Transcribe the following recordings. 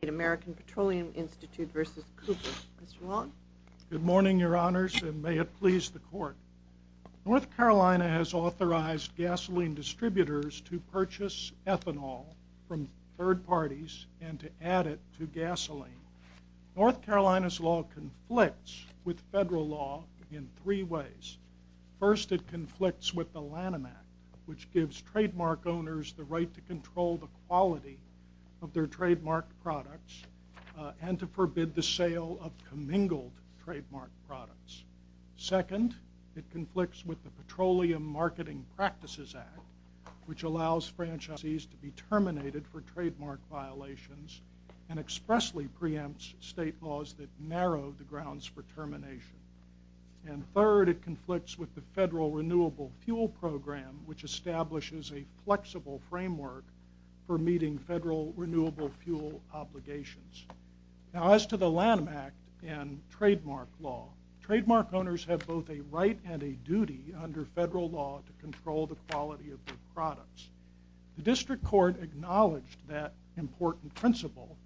Good morning, Your Honors, and may it please the Court. North Carolina has authorized gasoline distributors to purchase ethanol from third parties and to add it to gasoline. North Carolina's law conflicts with federal law in three ways. First, it conflicts with the Lanham Act, which and to forbid the sale of commingled trademark products. Second, it conflicts with the Petroleum Marketing Practices Act, which allows franchises to be terminated for trademark violations and expressly preempts state laws that narrow the grounds for termination. And third, it conflicts with the Federal Renewable Fuel Program, which establishes a flexible framework for meeting federal renewable fuel obligations. Now as to the Lanham Act and trademark law, trademark owners have both a right and a duty under federal law to control the quality of their products. The District Court acknowledged that important principle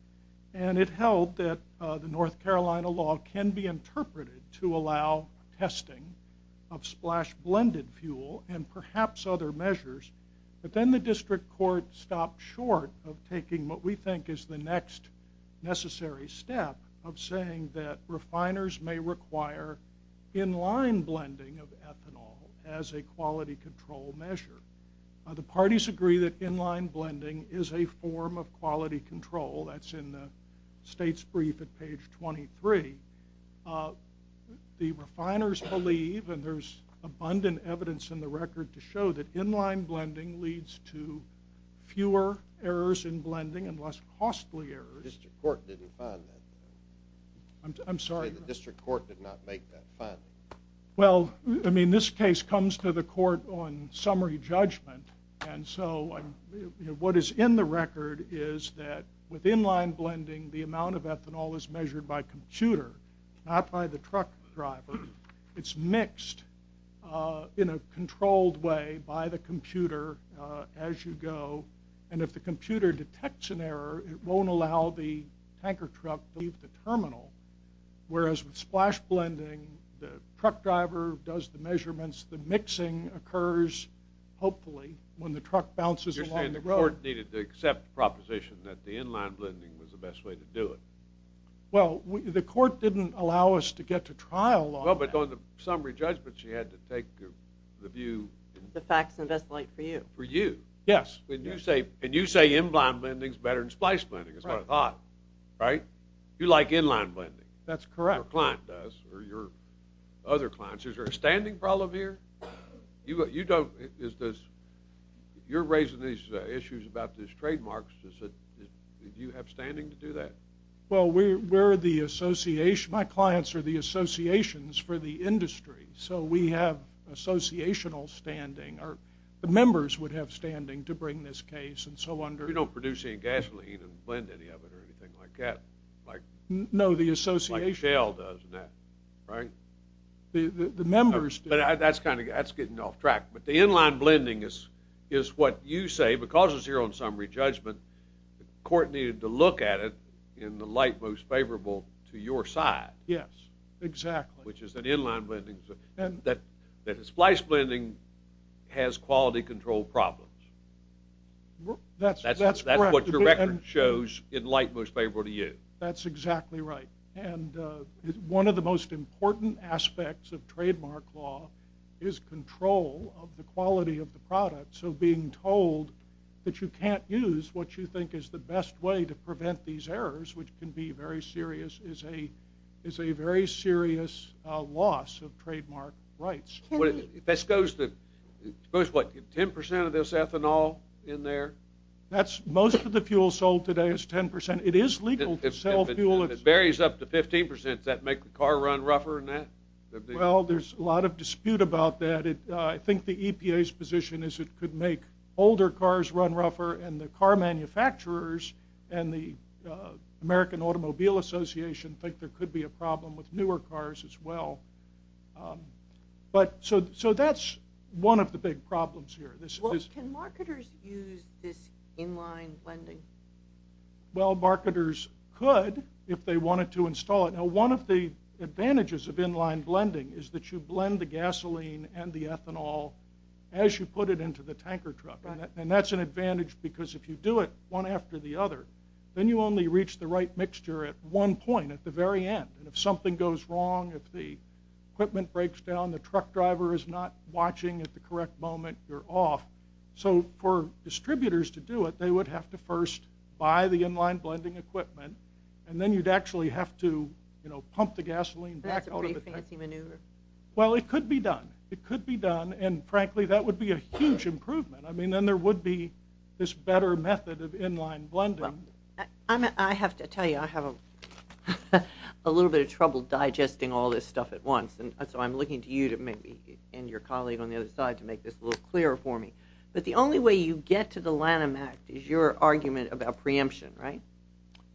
and it held that the North Carolina law can be interpreted to allow testing of splash blended fuel and the District Court stopped short of taking what we think is the next necessary step of saying that refiners may require inline blending of ethanol as a quality control measure. The parties agree that inline blending is a form of quality control. That's in the state's brief at page 23. The refiners believe and there's abundant evidence in the record to say that inline blending leads to fewer errors in blending and less costly errors. The District Court did not make that finding. Well, I mean this case comes to the court on summary judgment and so what is in the record is that with inline blending the amount of ethanol is measured by computer, not by the truck driver. It's mixed in a controlled way by the computer as you go and if the computer detects an error it won't allow the tanker truck to leave the terminal whereas with splash blending the truck driver does the measurements, the mixing occurs hopefully when the truck bounces along the road. You're saying the court needed to accept the proposition that the inline blending was the best way to do it. Well, the court didn't allow us to get to trial on that. Well, but on the summary judgment she had to take the view. The facts investigate for you. For you. Yes. And you say inline blending is better than splice blending is what I thought, right? You like inline blending. That's correct. Your client does or your other clients. Is there a standing problem here? You're raising these issues about these trademarks. Do you have standing to do that? Well, my clients are the associations for the industry so we have associational standing or the members would have standing to bring this case and so on. You don't produce any gasoline and blend any of it or anything like that. No, the association. Like Shell does, right? The members do. But that's getting off track. But the inline blending is what you say because it's here on summary judgment, the court needed to look at it in the light most favorable to your side. Yes, exactly. Which is that inline blending, that splice blending has quality control problems. That's correct. That's what your record shows in light most favorable to you. That's exactly right. And one of the most important aspects of trademark law is control of the quality of the product. So being told that you can't use what you think is the best way to prevent these errors, which can be very serious, is a very serious loss of trademark rights. This goes to 10% of this ethanol in there? Most of the fuel sold today is 10%. It is legal to sell fuel. If it varies up to 15%, does that make the car run rougher than that? Well, there's a lot of dispute about that. I think the EPA's position is it could make older cars run rougher and the car manufacturers and the American Automobile Association think there could be a problem with newer cars as well. So that's one of the big problems here. Can marketers use this inline blending? Well, marketers could if they wanted to install it. Now, one of the advantages of inline blending is that you blend the gasoline and the ethanol as you put it into the tanker truck. And that's an advantage because if you do it one after the other, then you only reach the right mixture at one point at the very end. And if something goes wrong, if the equipment breaks down, the truck driver is not watching at the correct moment, you're off. So for distributors to do it, they would have to first buy the inline blending equipment and then you'd actually have to pump the gasoline back out of the tank. That's a pretty fancy maneuver. Well, it could be done. It could be done. And frankly, that would be a huge improvement. I mean, then there would be this better method of inline blending. I have to tell you, I have a little bit of trouble digesting all this stuff at once. And so I'm looking to you and your colleague on the other side to make this a little clearer for me. But the only way you get to the Lanham Act is your argument about preemption, right?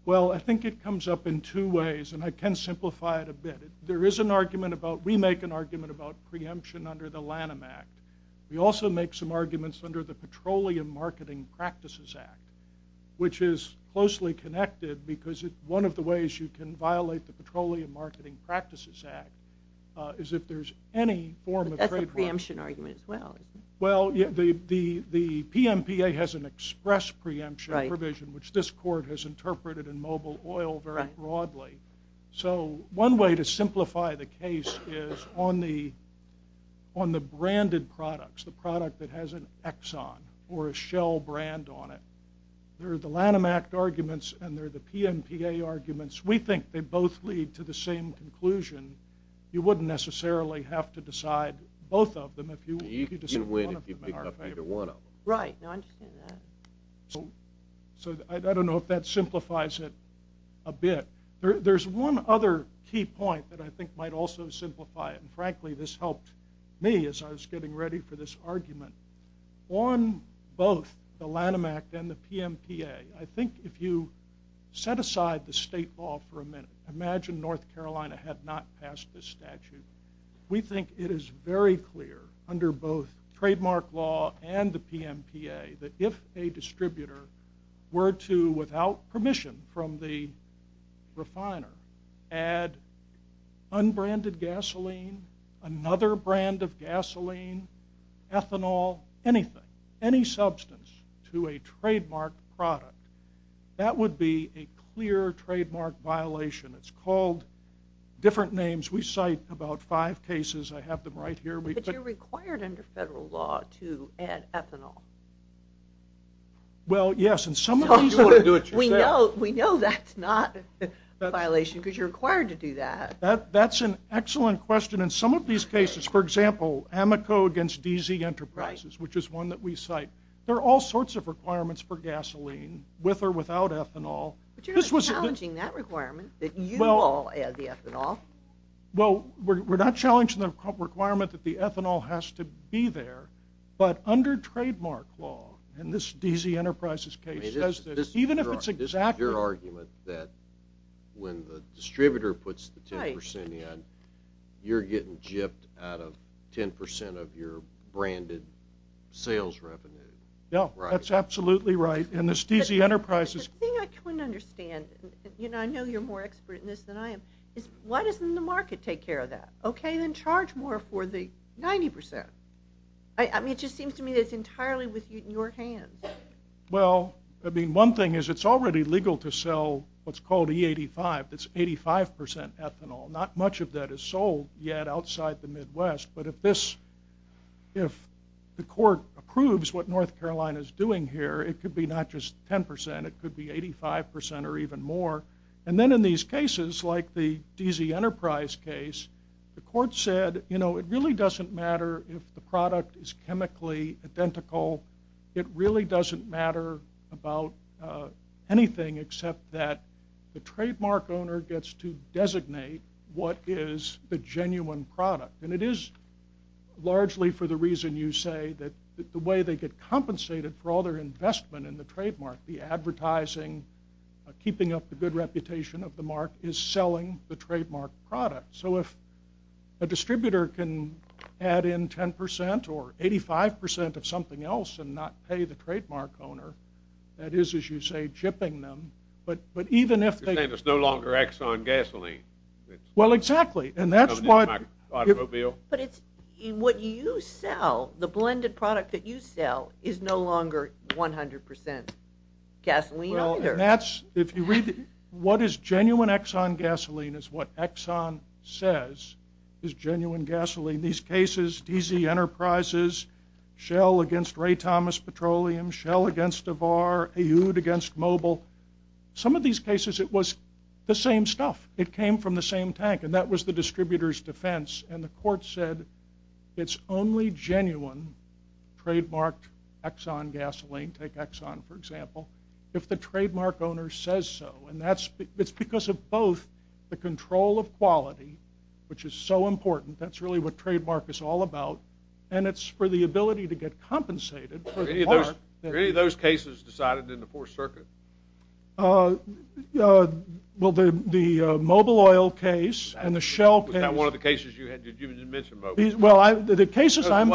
Well, I think it comes up in two ways, and I can simplify it a bit. There is an argument about, we make an argument about preemption under the Lanham Act. We also make some arguments under the Petroleum Marketing Practices Act, which is closely connected because one of the ways you can violate the Petroleum Marketing Practices Act is if there's any form of trade- But that's a preemption argument as well, isn't it? Well, the PMPA has an express preemption provision, which this court has interpreted in Mobile Oil very broadly. So one way to simplify the case is on the branded products, the product that has an Exxon or a Shell brand on it. There are the Lanham Act arguments, and there are the PMPA arguments. We think they both lead to the same conclusion. You wouldn't necessarily have to decide both of them. You can win if you pick up either one of them. Right, I understand that. So I don't know if that simplifies it a bit. There's one other key point that I think might also simplify it, and frankly this helped me as I was getting ready for this argument. On both the Lanham Act and the PMPA, I think if you set aside the state law for a minute, imagine North Carolina had not passed this statute. We think it is very clear under both trademark law and the PMPA that if a distributor were to, without permission from the refiner, add unbranded gasoline, another brand of gasoline, ethanol, anything, any substance to a trademark product, that would be a clear trademark violation. It's called different names. We cite about five cases. I have them right here. But you're required under federal law to add ethanol. Well, yes. We know that's not a violation because you're required to do that. That's an excellent question. In some of these cases, for example, Amoco against DZ Enterprises, which is one that we cite, there are all sorts of requirements for gasoline with or without ethanol. But you're not challenging that requirement that you all add the ethanol. Well, we're not challenging the requirement that the ethanol has to be there. But under trademark law, in this DZ Enterprises case, even if it's exactly that. This is your argument that when the distributor puts the 10% in, you're getting jipped out of 10% of your branded sales revenue. Yeah, that's absolutely right. The thing I couldn't understand, and I know you're more expert in this than I am, is why doesn't the market take care of that? Okay, then charge more for the 90%. I mean, it just seems to me that it's entirely in your hands. Well, I mean, one thing is it's already legal to sell what's called E85. That's 85% ethanol. Not much of that is sold yet outside the Midwest. But if the court approves what North Carolina is doing here, it could be not just 10%, it could be 85% or even more. And then in these cases, like the DZ Enterprise case, the court said, you know, it really doesn't matter if the product is chemically identical. It really doesn't matter about anything except that the trademark owner gets to designate what is the genuine product. And it is largely for the reason you say, that the way they get compensated for all their investment in the trademark, the advertising, keeping up the good reputation of the mark, is selling the trademark product. So if a distributor can add in 10% or 85% of something else and not pay the trademark owner, that is, as you say, chipping them. But even if they... You're saying it's no longer Exxon Gasoline. Well, exactly. And that's what... Automobile. But what you sell, the blended product that you sell, is no longer 100% gasoline either. Well, and that's... If you read... What is genuine Exxon Gasoline is what Exxon says is genuine gasoline. These cases, DZ Enterprises, Shell against Ray Thomas Petroleum, Shell against Devar, Aoud against Mobil. Some of these cases, it was the same stuff. It came from the same tank, and that was the distributor's defense. And the court said it's only genuine trademarked Exxon Gasoline, take Exxon, for example, if the trademark owner says so. And it's because of both the control of quality, which is so important. That's really what trademark is all about. And it's for the ability to get compensated for the mark. Were any of those cases decided in the Fourth Circuit? Well, the Mobil Oil case and the Shell case... Well, the cases I'm...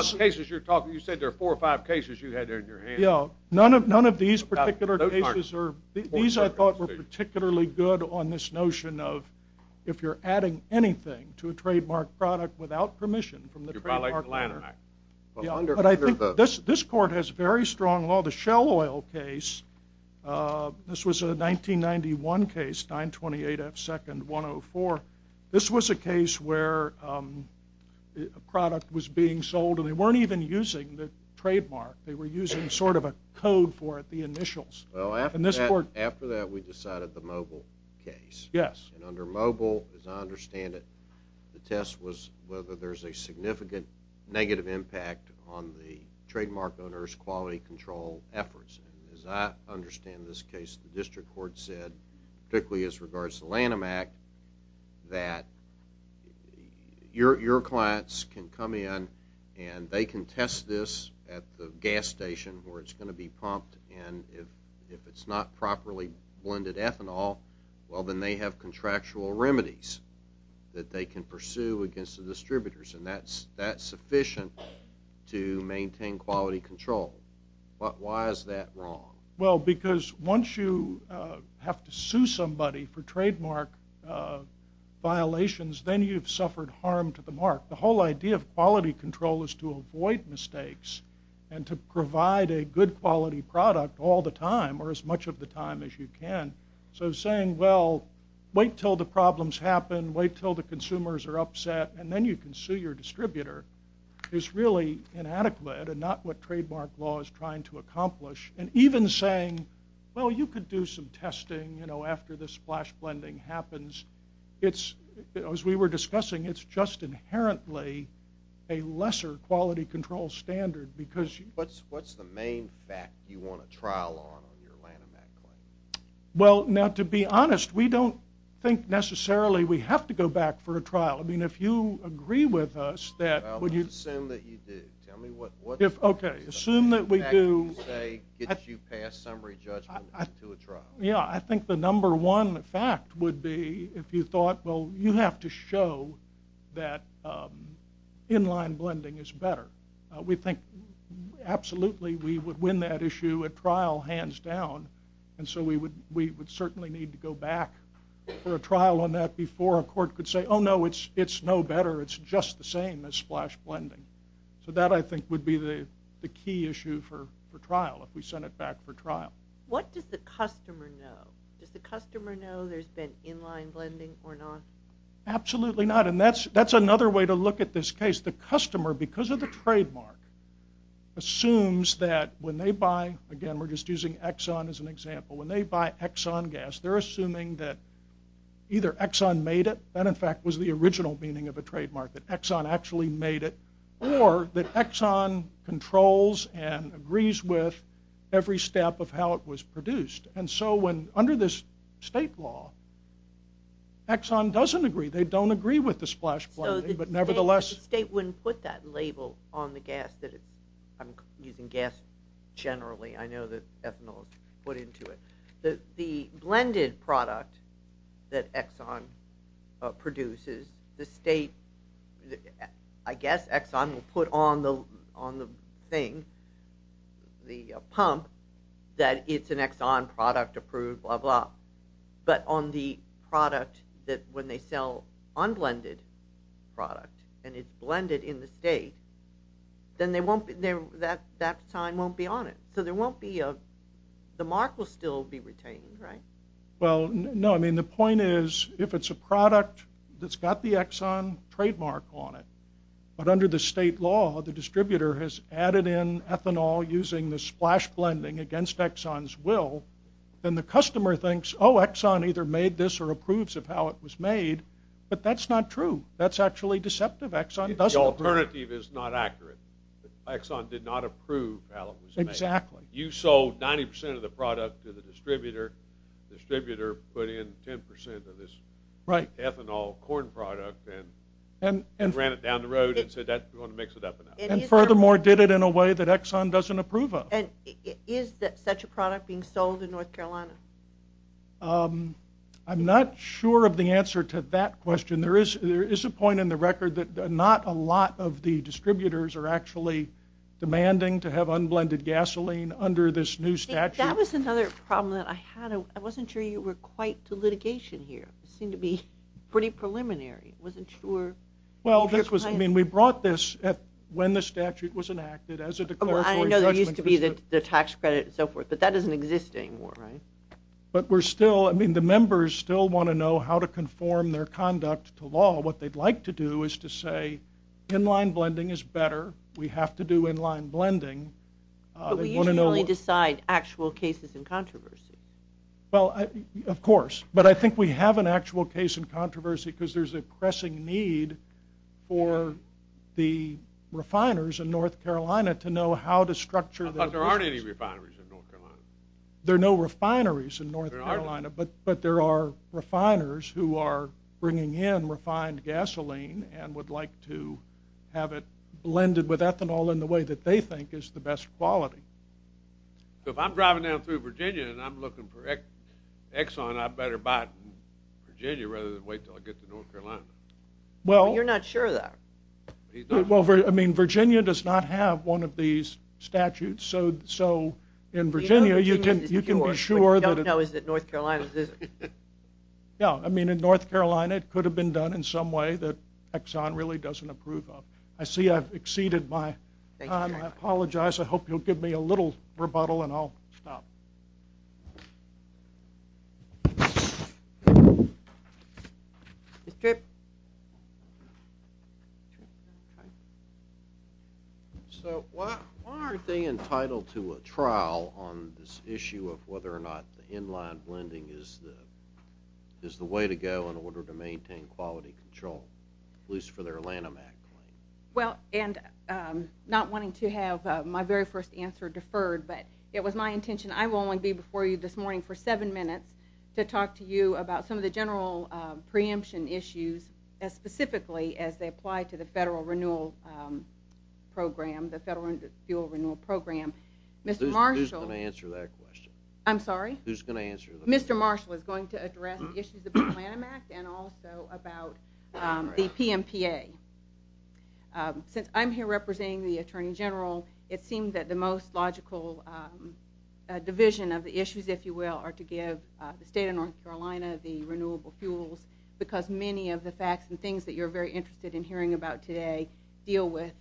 You said there are four or five cases you had there in your hand. None of these particular cases are... These, I thought, were particularly good on this notion of if you're adding anything to a trademark product without permission from the trademark owner. But I think this court has very strong law. The Shell Oil case, this was a 1991 case, 9-28-F-2-104. This was a case where a product was being sold, and they weren't even using the trademark. They were using sort of a code for it, the initials. Well, after that, we decided the Mobil case. Yes. And under Mobil, as I understand it, the test was whether there's a significant negative impact on the trademark owner's quality control efforts. And as I understand this case, the district court said, particularly as regards to Lanham Act, that your clients can come in, and they can test this at the gas station where it's going to be pumped, and if it's not properly blended ethanol, well, then they have contractual remedies that they can pursue against the distributors, and that's sufficient to maintain quality control. But why is that wrong? Well, because once you have to sue somebody for trademark violations, then you've suffered harm to the mark. The whole idea of quality control is to avoid mistakes and to provide a good quality product all the time, or as much of the time as you can. So saying, well, wait till the problems happen, wait till the consumers are upset, and then you can sue your distributor is really inadequate and not what trademark law is trying to accomplish. And even saying, well, you could do some testing, you know, after the splash blending happens, it's, as we were discussing, it's just inherently a lesser quality control standard because you... What's the main fact you want a trial on on your Lanham Act claim? Well, now, to be honest, we don't think necessarily we have to go back for a trial. I mean, if you agree with us that... Well, let's assume that you do. Okay, assume that we do. Yeah, I think the number one fact would be if you thought, well, you have to show that inline blending is better. We think absolutely we would win that issue at trial hands down, and so we would certainly need to go back for a trial on that before a court could say, oh, no, it's no better. It's just the same as splash blending. So that, I think, would be the key issue for trial, if we sent it back for trial. What does the customer know? Does the customer know there's been inline blending or not? Absolutely not, and that's another way to look at this case. The customer, because of the trademark, assumes that when they buy... Again, we're just using Exxon as an example. When they buy Exxon gas, they're assuming that either Exxon made it, that, in fact, was the original meaning of a trademark, that Exxon actually made it, or that Exxon controls and agrees with every step of how it was produced. And so under this state law, Exxon doesn't agree. They don't agree with the splash blending, but nevertheless... So the state wouldn't put that label on the gas that it... I'm using gas generally. I know that ethanol is put into it. The blended product that Exxon produces, the state, I guess, Exxon will put on the thing, the pump, that it's an Exxon product approved, blah, blah, but on the product that when they sell unblended product and it's blended in the state, then that sign won't be on it. So there won't be a... The mark will still be retained, right? Well, no, I mean, the point is, if it's a product that's got the Exxon trademark on it, but under the state law, the distributor has added in ethanol using the splash blending against Exxon's will, then the customer thinks, oh, Exxon either made this or approves of how it was made, but that's not true. That's actually deceptive. Exxon doesn't approve. The alternative is not accurate. Exxon did not approve how it was made. Exactly. You sold 90% of the product to the distributor. The distributor put in 10% of this ethanol corn product and ran it down the road and said, we want to mix it up enough. And furthermore, did it in a way that Exxon doesn't approve of. And is such a product being sold in North Carolina? I'm not sure of the answer to that question. There is a point in the record that not a lot of the distributors are actually demanding to have unblended gasoline under this new statute. That was another problem that I had. I wasn't sure you were quite to litigation here. It seemed to be pretty preliminary. I wasn't sure. We brought this when the statute was enacted as a declaratory judgment. I know there used to be the tax credit and so forth, but that doesn't exist anymore, right? But the members still want to know how to conform their conduct to law. What they'd like to do is to say inline blending is better. We have to do inline blending. But we usually only decide actual cases in controversy. Well, of course. But I think we have an actual case in controversy because there's a pressing need for the refiners in North Carolina to know how to structure their business. But there aren't any refineries in North Carolina. There are no refineries in North Carolina, but there are refiners who are bringing in refined gasoline and would like to have it blended with ethanol in the way that they think is the best quality. If I'm driving down through Virginia and I'm looking for Exxon, I better buy it in Virginia rather than wait until I get to North Carolina. You're not sure of that? Well, I mean, Virginia does not have one of these statutes. So in Virginia, you can be sure that it's— Yeah, I mean, in North Carolina, it could have been done in some way that Exxon really doesn't approve of. I see I've exceeded my time. I apologize. I hope you'll give me a little rebuttal and I'll stop. Mr. Tripp? So why aren't they entitled to a trial on this issue of whether or not the inline blending is the way to go in order to maintain quality control, at least for their Lanham Act claim? Well, and not wanting to have my very first answer deferred, but it was my intention—I will only be before you this morning for seven minutes to talk to you about some of the general preemption issues as specifically as they apply to the Federal Renewal Program, the Federal Fuel Renewal Program. Who's going to answer that question? I'm sorry? Who's going to answer the question? Mr. Marshall is going to address the issues of the Lanham Act and also about the PMPA. Since I'm here representing the Attorney General, it seems that the most logical division of the issues, if you will, are to give the state of North Carolina the renewable fuels because many of the facts and things that you're very interested in hearing about today deal with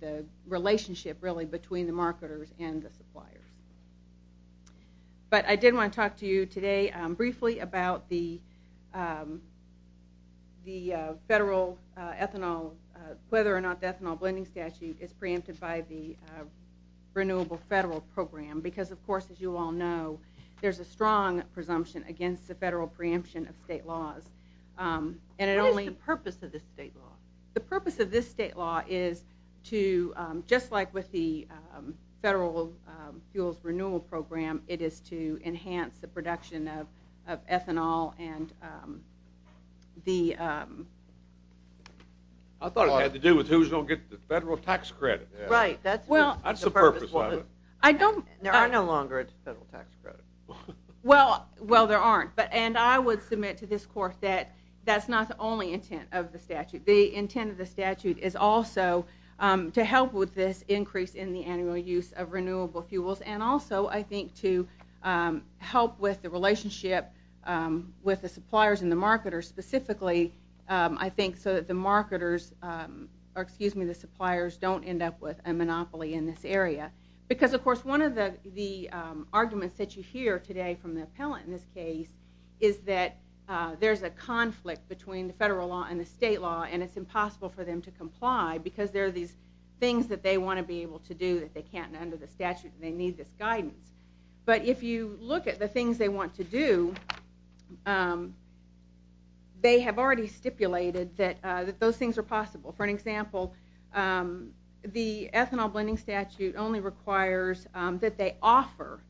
the relationship, really, between the marketers and the suppliers. But I did want to talk to you today briefly about the federal ethanol— whether or not the ethanol blending statute is preempted by the Renewable Federal Program because, of course, as you all know, there's a strong presumption against the federal preemption of state laws. What is the purpose of the state law? The purpose of this state law is to— just like with the Federal Fuels Renewal Program, it is to enhance the production of ethanol and the— I thought it had to do with who's going to get the federal tax credit. Right. That's the purpose of it. There are no longer federal tax credits. Well, there aren't. And I would submit to this court that that's not the only intent of the statute. The intent of the statute is also to help with this increase in the annual use of renewable fuels and also, I think, to help with the relationship with the suppliers and the marketers. Specifically, I think, so that the marketers— or, excuse me, the suppliers don't end up with a monopoly in this area because, of course, one of the arguments that you hear today from the appellant in this case is that there's a conflict between the federal law and the state law and it's impossible for them to comply because there are these things that they want to be able to do that they can't under the statute and they need this guidance. But if you look at the things they want to do, they have already stipulated that those things are possible. For an example, the ethanol blending statute only requires that they offer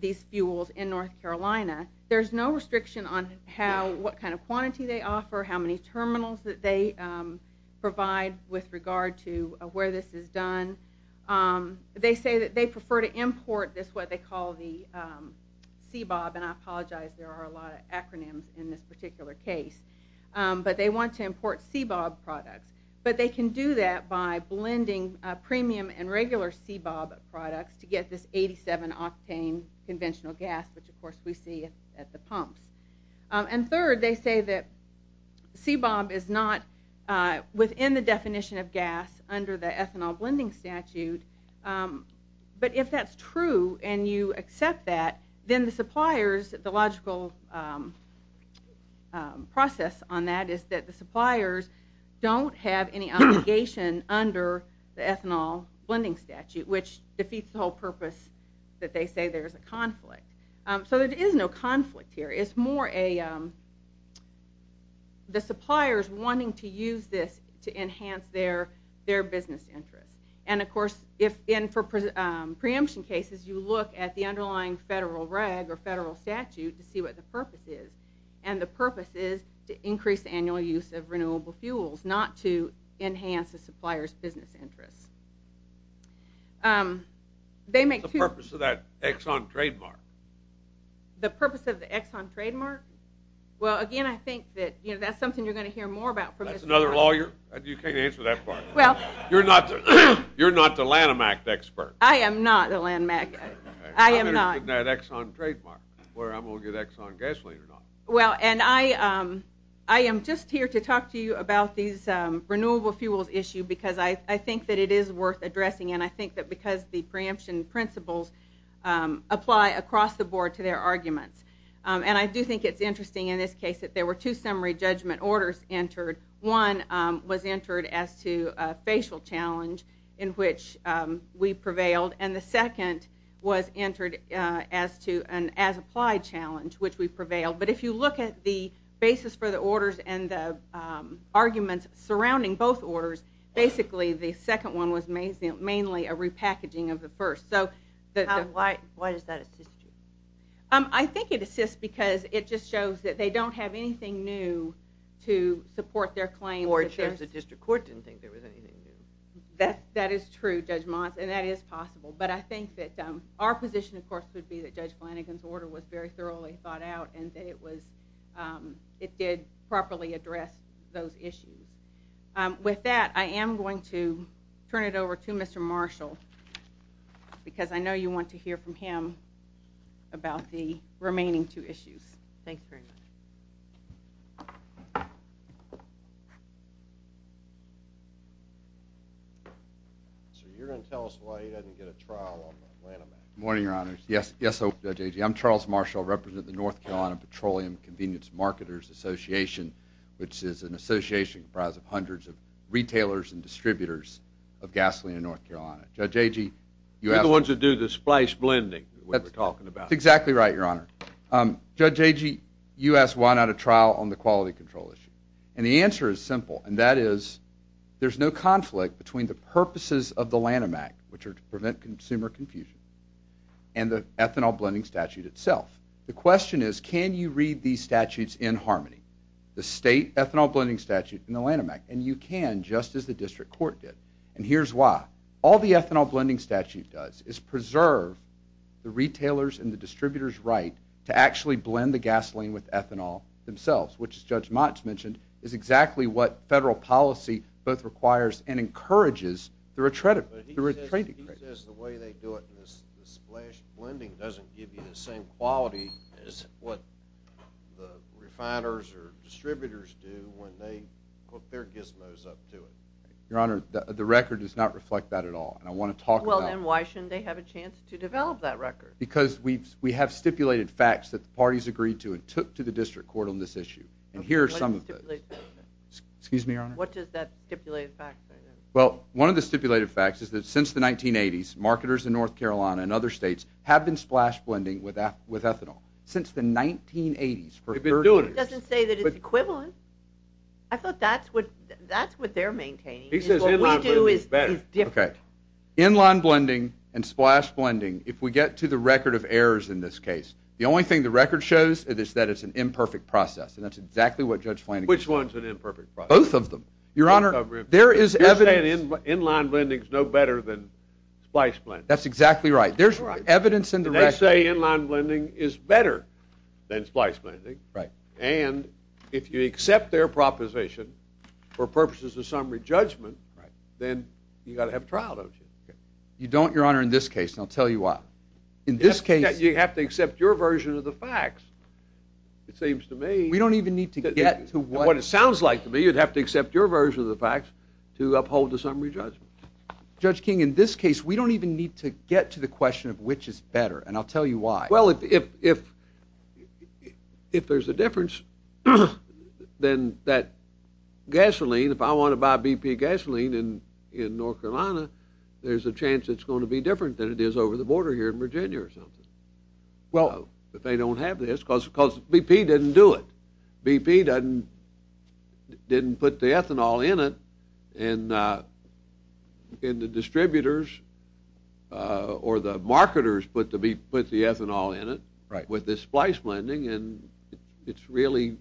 these fuels in North Carolina. There's no restriction on what kind of quantity they offer, how many terminals that they provide with regard to where this is done. They say that they prefer to import this, what they call the CBOB, and I apologize, there are a lot of acronyms in this particular case, but they want to import CBOB products. But they can do that by blending premium and regular CBOB products to get this 87 octane conventional gas, which, of course, we see at the pumps. And third, they say that CBOB is not within the definition of gas under the ethanol blending statute, but if that's true and you accept that, then the suppliers, the logical process on that is that the suppliers don't have any obligation under the ethanol blending statute, which defeats the whole purpose that they say there's a conflict. So there is no conflict here. It's more the suppliers wanting to use this to enhance their business interests. And, of course, in preemption cases, you look at the underlying federal reg or federal statute to see what the purpose is, and the purpose is to increase annual use of renewable fuels, not to enhance a supplier's business interests. What's the purpose of that Exxon trademark? The purpose of the Exxon trademark? Well, again, I think that that's something you're going to hear more about. That's another lawyer? You can't answer that part. You're not the Lanham Act expert. I am not the Lanham Act expert. I'm interested in that Exxon trademark, whether I'm going to get Exxon gasoline or not. Well, and I am just here to talk to you about these renewable fuels issue because I think that it is worth addressing, and I think that because the preemption principles apply across the board to their arguments. And I do think it's interesting in this case that there were two summary judgment orders entered. One was entered as to a facial challenge in which we prevailed, and the second was entered as to an as-applied challenge, which we prevailed. But if you look at the basis for the orders and the arguments surrounding both orders, basically the second one was mainly a repackaging of the first. Why does that assist you? I think it assists because it just shows that they don't have anything new to support their claim. Or it shows the district court didn't think there was anything new. That is true, Judge Mons, and that is possible. But I think that our position, of course, would be that Judge Flanagan's order was very thoroughly thought out and that it did properly address those issues. With that, I am going to turn it over to Mr. Marshall because I know you want to hear from him about the remaining two issues. Thanks very much. You're going to tell us why he doesn't get a trial on the Atlanta matter. Good morning, Your Honors. Yes, Judge, I'm Charles Marshall, representative of the North Carolina Petroleum Convenience Marketers Association, which is an association comprised of hundreds of retailers and distributors of gasoline in North Carolina. Judge Agee, you asked... You're the ones who do the splash blending that we were talking about. That's exactly right, Your Honor. Judge Agee, you asked why not a trial on the quality control issue. And the answer is simple, and that is there's no conflict between the purposes of the Lanham Act, which are to prevent consumer confusion, and the ethanol blending statute itself. The question is, can you read these statutes in harmony, the state ethanol blending statute and the Lanham Act? And you can, just as the district court did. And here's why. All the ethanol blending statute does is preserve the retailers and the distributors' right to actually blend the gasoline with ethanol themselves, which, as Judge Motz mentioned, is exactly what federal policy both requires and encourages through a trade decree. He says the way they do it in the splash blending doesn't give you the same quality as what the refiners or distributors do when they put their gizmos up to it. Your Honor, the record does not reflect that at all, and I want to talk about... Well, then why shouldn't they have a chance to develop that record? Because we have stipulated facts that the parties agreed to and took to the district court on this issue. And here are some of those. Excuse me, Your Honor? What is that stipulated fact? Well, one of the stipulated facts is that since the 1980s, marketers in North Carolina and other states have been splash blending with ethanol. Since the 1980s, for 30 years. It doesn't say that it's equivalent. I thought that's what they're maintaining. He says inline blending is better. Okay. Inline blending and splash blending, if we get to the record of errors in this case, the only thing the record shows is that it's an imperfect process, and that's exactly what Judge Flanagan said. Which one's an imperfect process? Both of them. Your Honor, there is evidence... You're saying inline blending is no better than splash blending. That's exactly right. There's evidence in the record... They say inline blending is better than splash blending. Right. And if you accept their proposition for purposes of summary judgment, then you've got to have trial, don't you? You don't, Your Honor, in this case, and I'll tell you why. In this case... You have to accept your version of the facts. It seems to me... We don't even need to get to what... to uphold the summary judgment. Judge King, in this case, we don't even need to get to the question of which is better, and I'll tell you why. Well, if there's a difference, then that gasoline, if I want to buy BP gasoline in North Carolina, there's a chance it's going to be different than it is over the border here in Virginia or something. Well... If they don't have this, because BP didn't do it. BP didn't put the ethanol in it, and the distributors or the marketers put the ethanol in it with this splice blending, and it's really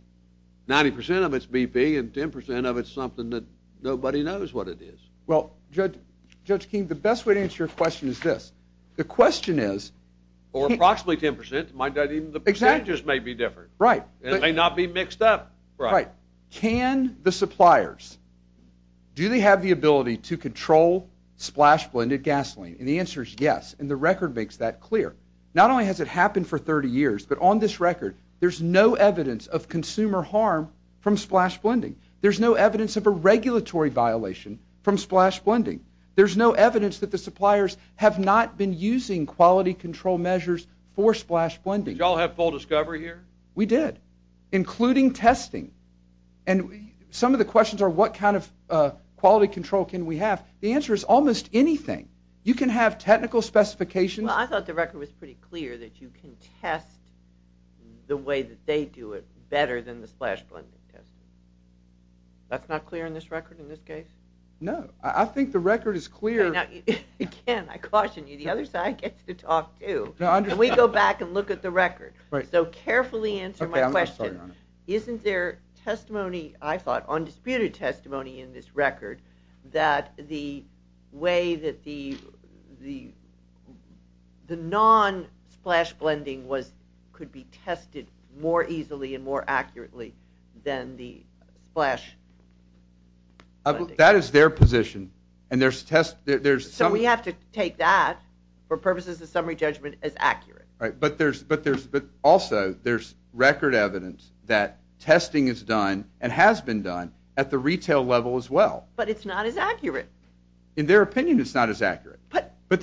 90% of it's BP, and 10% of it's something that nobody knows what it is. Well, Judge King, the best way to answer your question is this. The question is... Or approximately 10%. The percentages may be different. Right. It may not be mixed up. Right. Can the suppliers, do they have the ability to control splice blended gasoline? And the answer is yes, and the record makes that clear. Not only has it happened for 30 years, but on this record, there's no evidence of consumer harm from splice blending. There's no evidence of a regulatory violation from splice blending. There's no evidence that the suppliers have not been using quality control measures for splice blending. Did you all have full discovery here? We did, including testing. And some of the questions are, what kind of quality control can we have? The answer is almost anything. You can have technical specifications. Well, I thought the record was pretty clear that you can test the way that they do it better than the splice blending test. That's not clear in this record, in this case? No. I think the record is clear. Again, I caution you, the other side gets to talk, too. Can we go back and look at the record? So carefully answer my question. Isn't there testimony, I thought, undisputed testimony in this record that the way that the non-splice blending could be tested more easily and more accurately than the splice blending? That is their position. So we have to take that, for purposes of summary judgment, as accurate. But also, there's record evidence that testing is done and has been done at the retail level as well. But it's not as accurate. In their opinion, it's not as accurate. But look,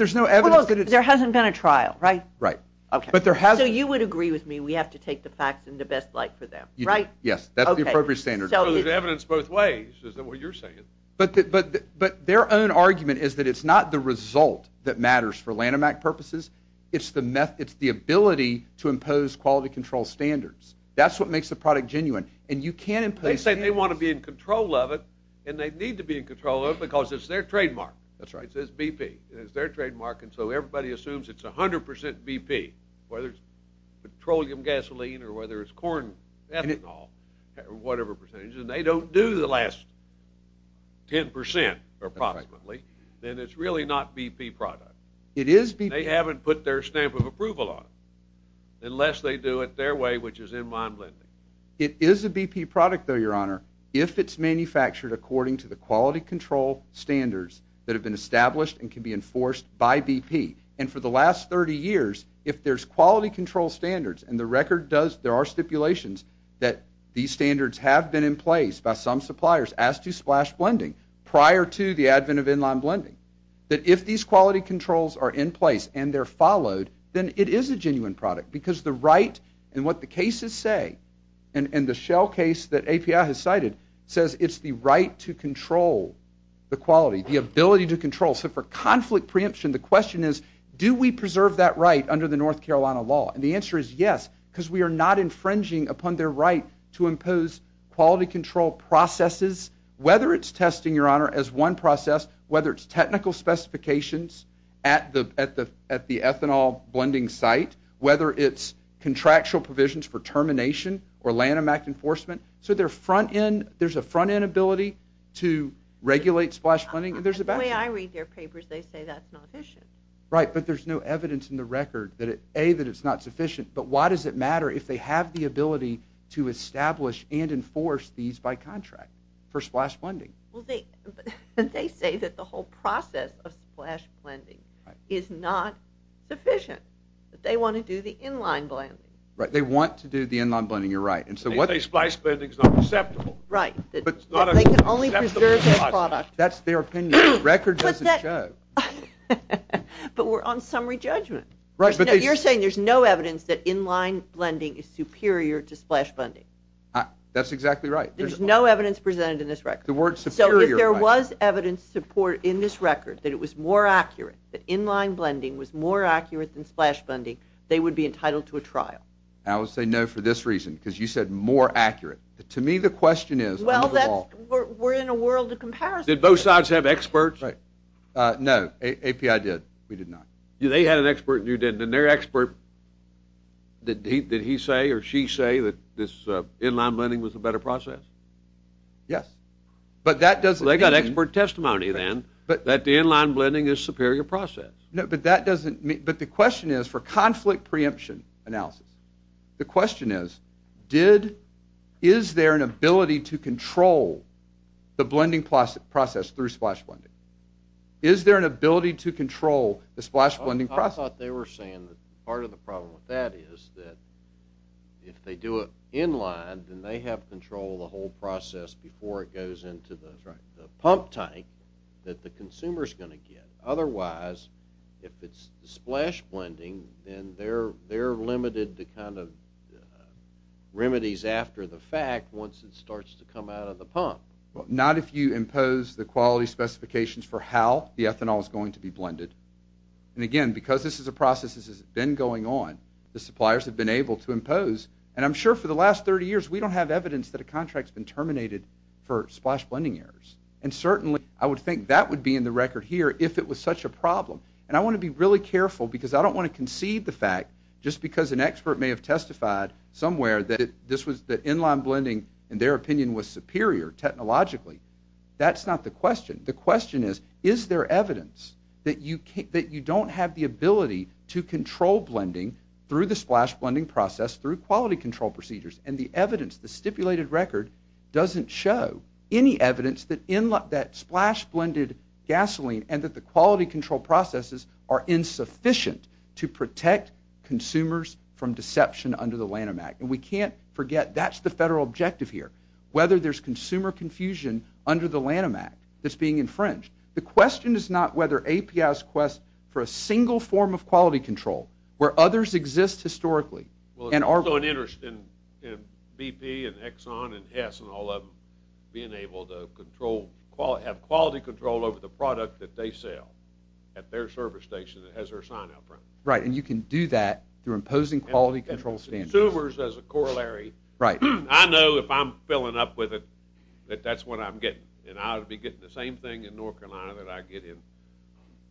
there hasn't been a trial, right? Right. So you would agree with me we have to take the facts into best light for them, right? Yes, that's the appropriate standard. So there's evidence both ways, is that what you're saying? But their own argument is that it's not the result that matters for Lanhamac purposes. It's the ability to impose quality control standards. That's what makes the product genuine. And you can impose standards. They say they want to be in control of it, and they need to be in control of it because it's their trademark. That's right. It's BP. It's their trademark, and so everybody assumes it's 100% BP, whether it's petroleum, gasoline, or whether it's corn, ethanol, or whatever percentage. And they don't do the last 10%, approximately. Then it's really not BP product. It is BP. They haven't put their stamp of approval on it unless they do it their way, which is in-line blending. It is a BP product, though, Your Honor, if it's manufactured according to the quality control standards that have been established and can be enforced by BP. And for the last 30 years, if there's quality control standards, and the record does, there are stipulations that these standards have been in place by some suppliers as to splash blending prior to the advent of in-line blending, that if these quality controls are in place and they're followed, then it is a genuine product because the right, and what the cases say, and the Shell case that API has cited, says it's the right to control the quality, the ability to control. So for conflict preemption, the question is, do we preserve that right under the North Carolina law? And the answer is yes because we are not infringing upon their right to impose quality control processes, whether it's testing, Your Honor, as one process, whether it's technical specifications at the ethanol blending site, whether it's contractual provisions for termination or Lanham Act enforcement. So there's a front-end ability to regulate splash blending, and there's a back side. The way I read their papers, they say that's not efficient. Right, but there's no evidence in the record that A, that it's not sufficient, but why does it matter if they have the ability to establish and enforce these by contract? For splash blending. Well, they say that the whole process of splash blending is not sufficient, that they want to do the inline blending. Right, they want to do the inline blending, you're right. They say splash blending's not acceptable. Right, that they can only preserve their product. That's their opinion. The record doesn't show. But we're on summary judgment. Right, but they... You're saying there's no evidence that inline blending is superior to splash blending. That's exactly right. There's no evidence presented in this record. So if there was evidence in this record that it was more accurate, that inline blending was more accurate than splash blending, they would be entitled to a trial. I would say no for this reason, because you said more accurate. To me the question is... Well, we're in a world of comparison. Did both sides have experts? Right. No, API did. We did not. They had an expert and you didn't, and their expert, did he say or she say that this inline blending was a better process? Yes. But that doesn't mean... They got expert testimony then that the inline blending is superior process. No, but that doesn't mean... But the question is, for conflict preemption analysis, the question is, is there an ability to control the blending process through splash blending? Is there an ability to control the splash blending process? I thought they were saying that part of the problem with that is that if they do it inline, then they have control of the whole process before it goes into the pump tank that the consumer is going to get. Otherwise, if it's splash blending, then they're limited to kind of remedies after the fact once it starts to come out of the pump. Not if you impose the quality specifications for how the ethanol is going to be blended. And again, because this is a process that has been going on, the suppliers have been able to impose. And I'm sure for the last 30 years, we don't have evidence that a contract's been terminated for splash blending errors. And certainly, I would think that would be in the record here if it was such a problem. And I want to be really careful because I don't want to concede the fact just because an expert may have testified somewhere that inline blending, in their opinion, was superior technologically. That's not the question. The question is, is there evidence that you don't have the ability to control blending through the splash blending process through quality control procedures? And the evidence, the stipulated record, doesn't show any evidence that splash blended gasoline and that the quality control processes are insufficient to protect consumers from deception under the Lanham Act. And we can't forget that's the federal objective here, whether there's consumer confusion under the Lanham Act that's being infringed. The question is not whether there's a special form of quality control where others exist historically. Well, there's also an interest in BP and Exxon and Hess and all of them being able to control, have quality control over the product that they sell at their service station that has their sign out front. Right, and you can do that through imposing quality control standards. Consumers as a corollary. Right. I know if I'm filling up with it that that's what I'm getting. And I'll be getting the same thing in North Carolina that I get in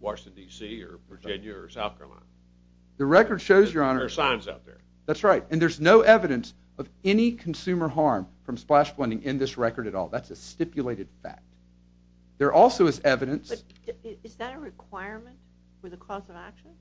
Washington, D.C. or Virginia or South Carolina. The record shows, Your Honor... There are signs out there. That's right. And there's no evidence of any consumer harm from splash blending in this record at all. That's a stipulated fact. There also is evidence... Is that a requirement for the cause of action?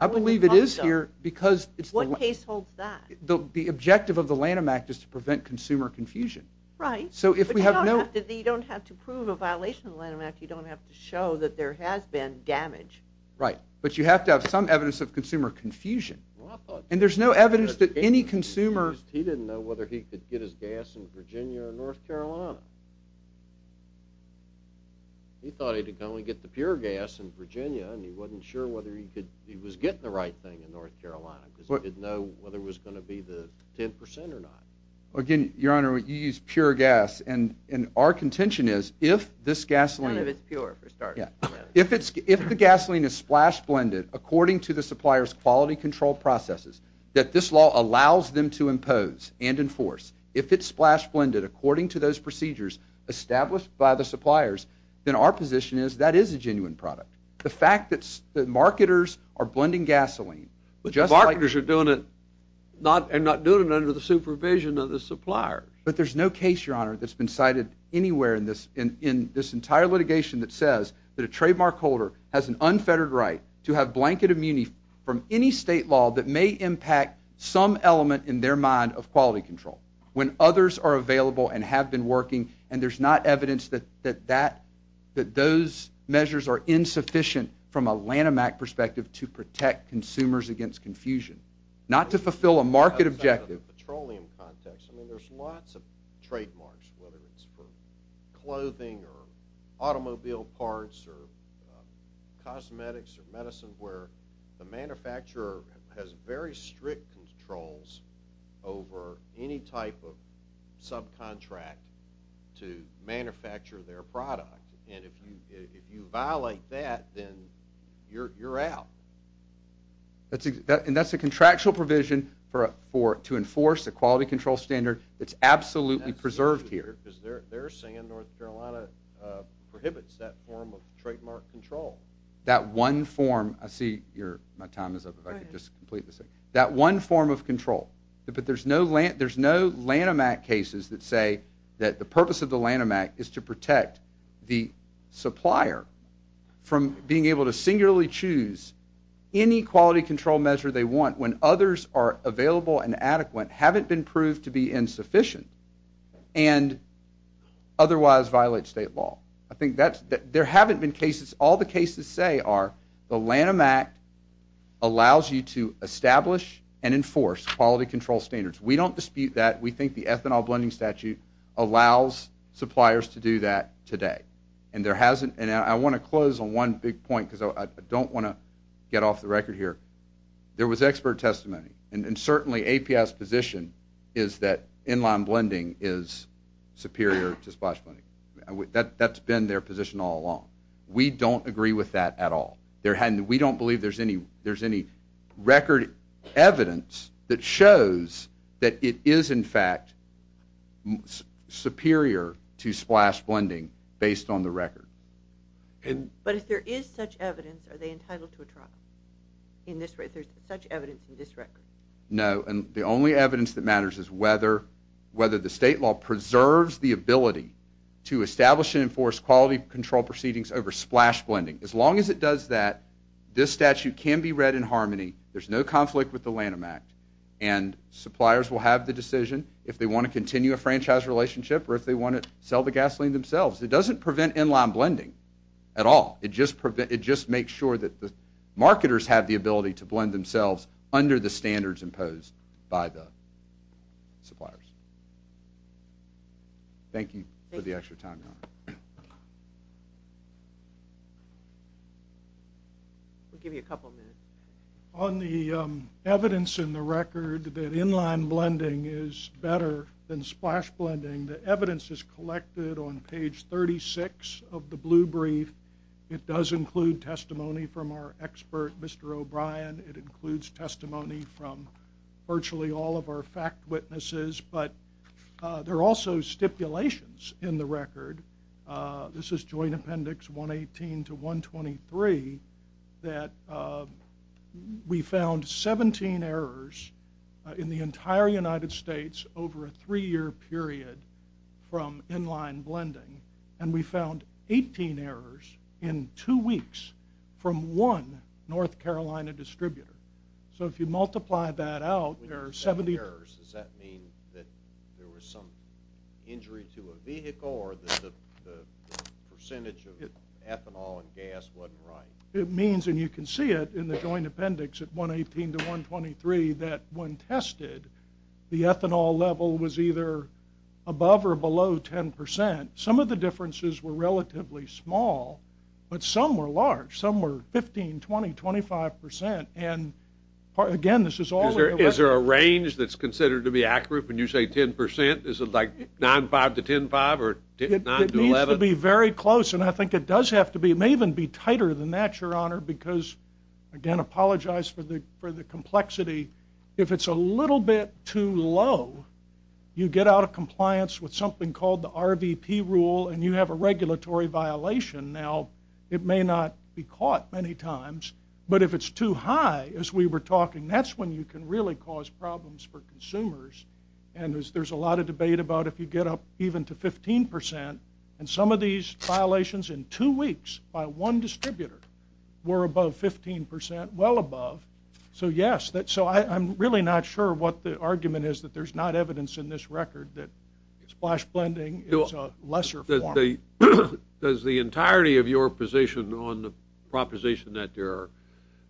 I believe it is here because... What case holds that? The objective of the Lanham Act is to prevent consumer confusion. Right. So if we have no... You don't have to prove a violation of the Lanham Act. You don't have to show that there has been damage. Right. But you have to have some evidence of consumer confusion. And there's no evidence that any consumer... He didn't know whether he could get his gas in Virginia or North Carolina. He thought he could only get the pure gas in Virginia and he wasn't sure whether he was getting the right thing in North Carolina because he didn't know whether it was going to be the 10% or not. Again, Your Honor, you use pure gas and our contention is if this gasoline... None of it's pure, for starters. If the gasoline is splash blended according to the supplier's quality control processes that this law allows them to impose and enforce, if it's splash blended according to those procedures established by the suppliers, then our position is that is a genuine product. The fact that marketers are blending gasoline... But marketers are doing it and not doing it under the supervision of the supplier. But there's no case, Your Honor, that's been cited anywhere in this entire litigation that says that a trademark holder has an unfettered right to have blanket immunity from any state law that may impact some element in their mind of quality control when others are available and have been working and there's not evidence that those measures are insufficient from a Lanham Act perspective to protect consumers against confusion, not to fulfill a market objective. ...petroleum context. I mean, there's lots of trademarks, whether it's for clothing or automobile parts or cosmetics or medicine, where the manufacturer has very strict controls over any type of subcontract to manufacture their product. And if you violate that, then you're out. And that's a contractual provision to enforce a quality control standard that's absolutely preserved here. ...because they're saying North Carolina prohibits that form of trademark control. That one form... I see my time is up. If I could just complete this. That one form of control. But there's no Lanham Act cases that say that the purpose of the Lanham Act is to protect the supplier from being able to singularly choose any quality control measure they want when others are available and adequate, haven't been proved to be insufficient, and otherwise violate state law. I think that's... There haven't been cases... All the cases say are the Lanham Act allows you to establish and enforce quality control standards. We don't dispute that. We think the ethanol blending statute allows suppliers to do that today. And there hasn't... And I want to close on one big point because I don't want to get off the record here. There was expert testimony. And certainly, the APS position is that inline blending is superior to splash blending. That's been their position all along. We don't agree with that at all. We don't believe there's any record evidence that shows that it is, in fact, superior to splash blending based on the record. But if there is such evidence, are they entitled to a trial? If there's such evidence in this record? No. And the only evidence that matters is whether the state law preserves the ability to establish and enforce quality control proceedings over splash blending. As long as it does that, this statute can be read in harmony. There's no conflict with the Lanham Act. And suppliers will have the decision if they want to continue a franchise relationship or if they want to sell the gasoline themselves. It doesn't prevent inline blending at all. It just makes sure that the marketers have the ability to blend themselves under the standards imposed by the suppliers. Thank you for the extra time. We'll give you a couple minutes. On the evidence in the record that inline blending is better than splash blending, the evidence is collected on page 36 of the blue brief. It does include testimony from our expert, Mr. O'Brien. It includes testimony from virtually all of our fact witnesses. But there are also stipulations in the record. This is Joint Appendix 118 to 123 that we found 17 errors in the entire United States over a three-year period from inline blending. And we found 18 errors in two weeks from one North Carolina distributor. So if you multiply that out, there are 17 errors. Does that mean that there was some injury to a vehicle or that the percentage of ethanol and gas wasn't right? It means, and you can see it in the Joint Appendix at 118 to 123 that when tested, the ethanol level was either above or below 10%. Some of the differences were relatively small, but some were large. Some were 15, 20, 25%. And again, this is all in the record. Is there a range that's considered to be accurate when you say 10%? Is it like 9.5 to 10.5 or 9 to 11? It needs to be very close, and I think it does have to be. It may even be tighter than that, Your Honor, because, again, I apologize for the complexity. If it's a little bit too low, you get out of compliance with something called the RVP rule, and you have a regulatory violation, now, it may not be caught many times, but if it's too high, as we were talking, that's when you can really cause problems for consumers, and there's a lot of debate about if you get up even to 15%, and some of these violations in two weeks by one distributor were above 15%, well above, so yes, so I'm really not sure what the argument is that there's not evidence in this record that splash blending is a lesser form. Does the entirety of your position on the proposition that there are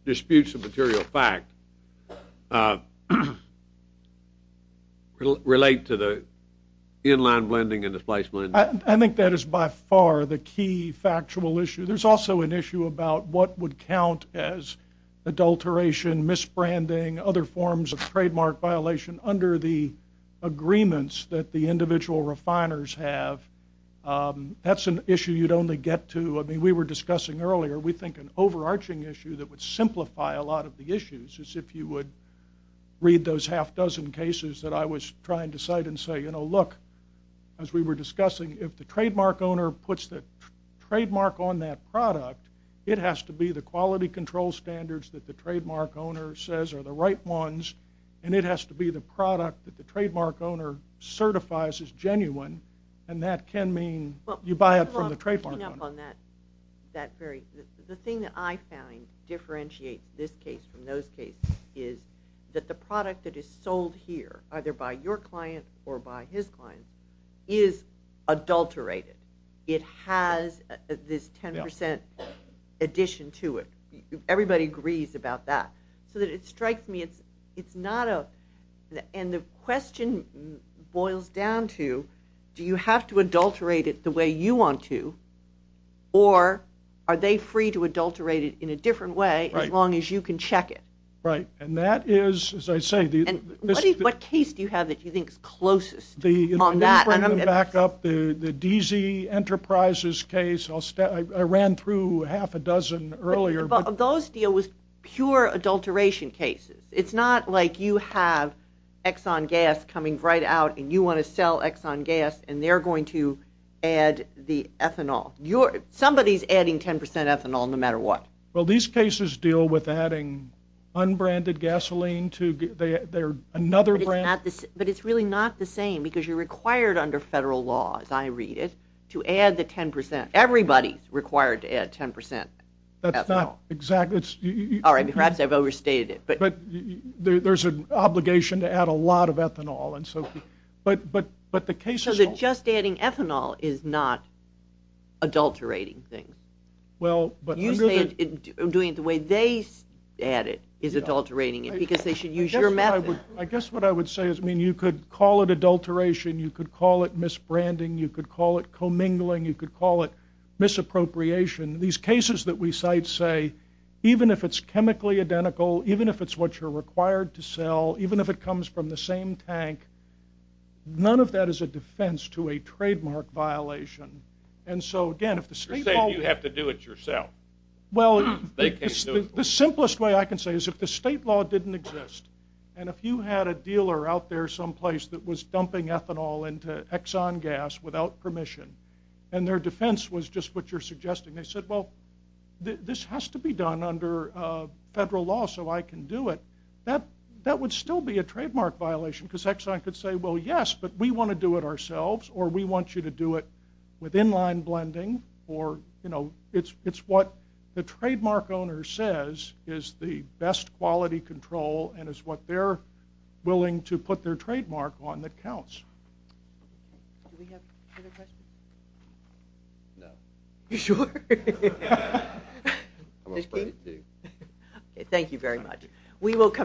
disputes of material fact relate to the inline blending and the splash blending? I think that is by far the key factual issue. There's also an issue about what would count as adulteration, misbranding, other forms of trademark violation under the agreements that the individual refiners have and that's an issue you'd only get to, I mean, we were discussing earlier, we think an overarching issue that would simplify a lot of the issues is if you would read those half dozen cases that I was trying to cite and say, you know, look, as we were discussing, if the trademark owner puts the trademark on that product, it has to be the quality control standards that the trademark owner says are the right ones, and it has to be the product that the trademark owner certifies as genuine, and that can mean you buy it from the trademark owner. Well, picking up on that, that very, the thing that I found differentiates this case from those cases is that the product that is sold here, either by your client or by his client, is adulterated. It has this 10% addition to it. Everybody agrees about that. So it strikes me, it's not a, and the question boils down to, do you have to adulterate it the way you want to, or are they free to adulterate it in a different way as long as you can check it? Right, and that is, as I say, What case do you have that you think is closest on that? Let me bring them back up. The DZ Enterprises case, I ran through half a dozen earlier. Those deal with pure adulteration cases. It's not like you have Exxon Gas coming right out and you want to sell Exxon Gas and they're going to add the ethanol. Somebody's adding 10% ethanol no matter what. Well, these cases deal with adding unbranded gasoline to, they're another brand. But it's really not the same because you're required under federal law, as I read it, to add the 10%. Everybody's required to add 10% ethanol. That's not exactly, Perhaps I've overstated it. But there's an obligation to add a lot of ethanol. But the cases... So just adding ethanol is not adulterating things? Well... You're saying doing it the way they add it is adulterating it because they should use your method. I guess what I would say is you could call it adulteration, you could call it misbranding, you could call it commingling, you could call it misappropriation. These cases that we cite say even if it's chemically identical, even if it's what you're required to sell, even if it comes from the same tank, none of that is a defense to a trademark violation. And so again, if the state law... You're saying you have to do it yourself. Well... They can't do it for you. The simplest way I can say is if the state law didn't exist and if you had a dealer out there someplace that was dumping ethanol into Exxon Gas without permission and their defense was just what you're suggesting, they said, well, this has to be done under federal law so I can do it. That would still be a trademark violation because Exxon could say, well, yes, but we want to do it ourselves or we want you to do it with inline blending or, you know, it's what the trademark owner says is the best quality control and is what they're willing to put their trademark on that counts. Do we have other questions? No. You sure? I'm afraid to do. Thank you very much. We will come back.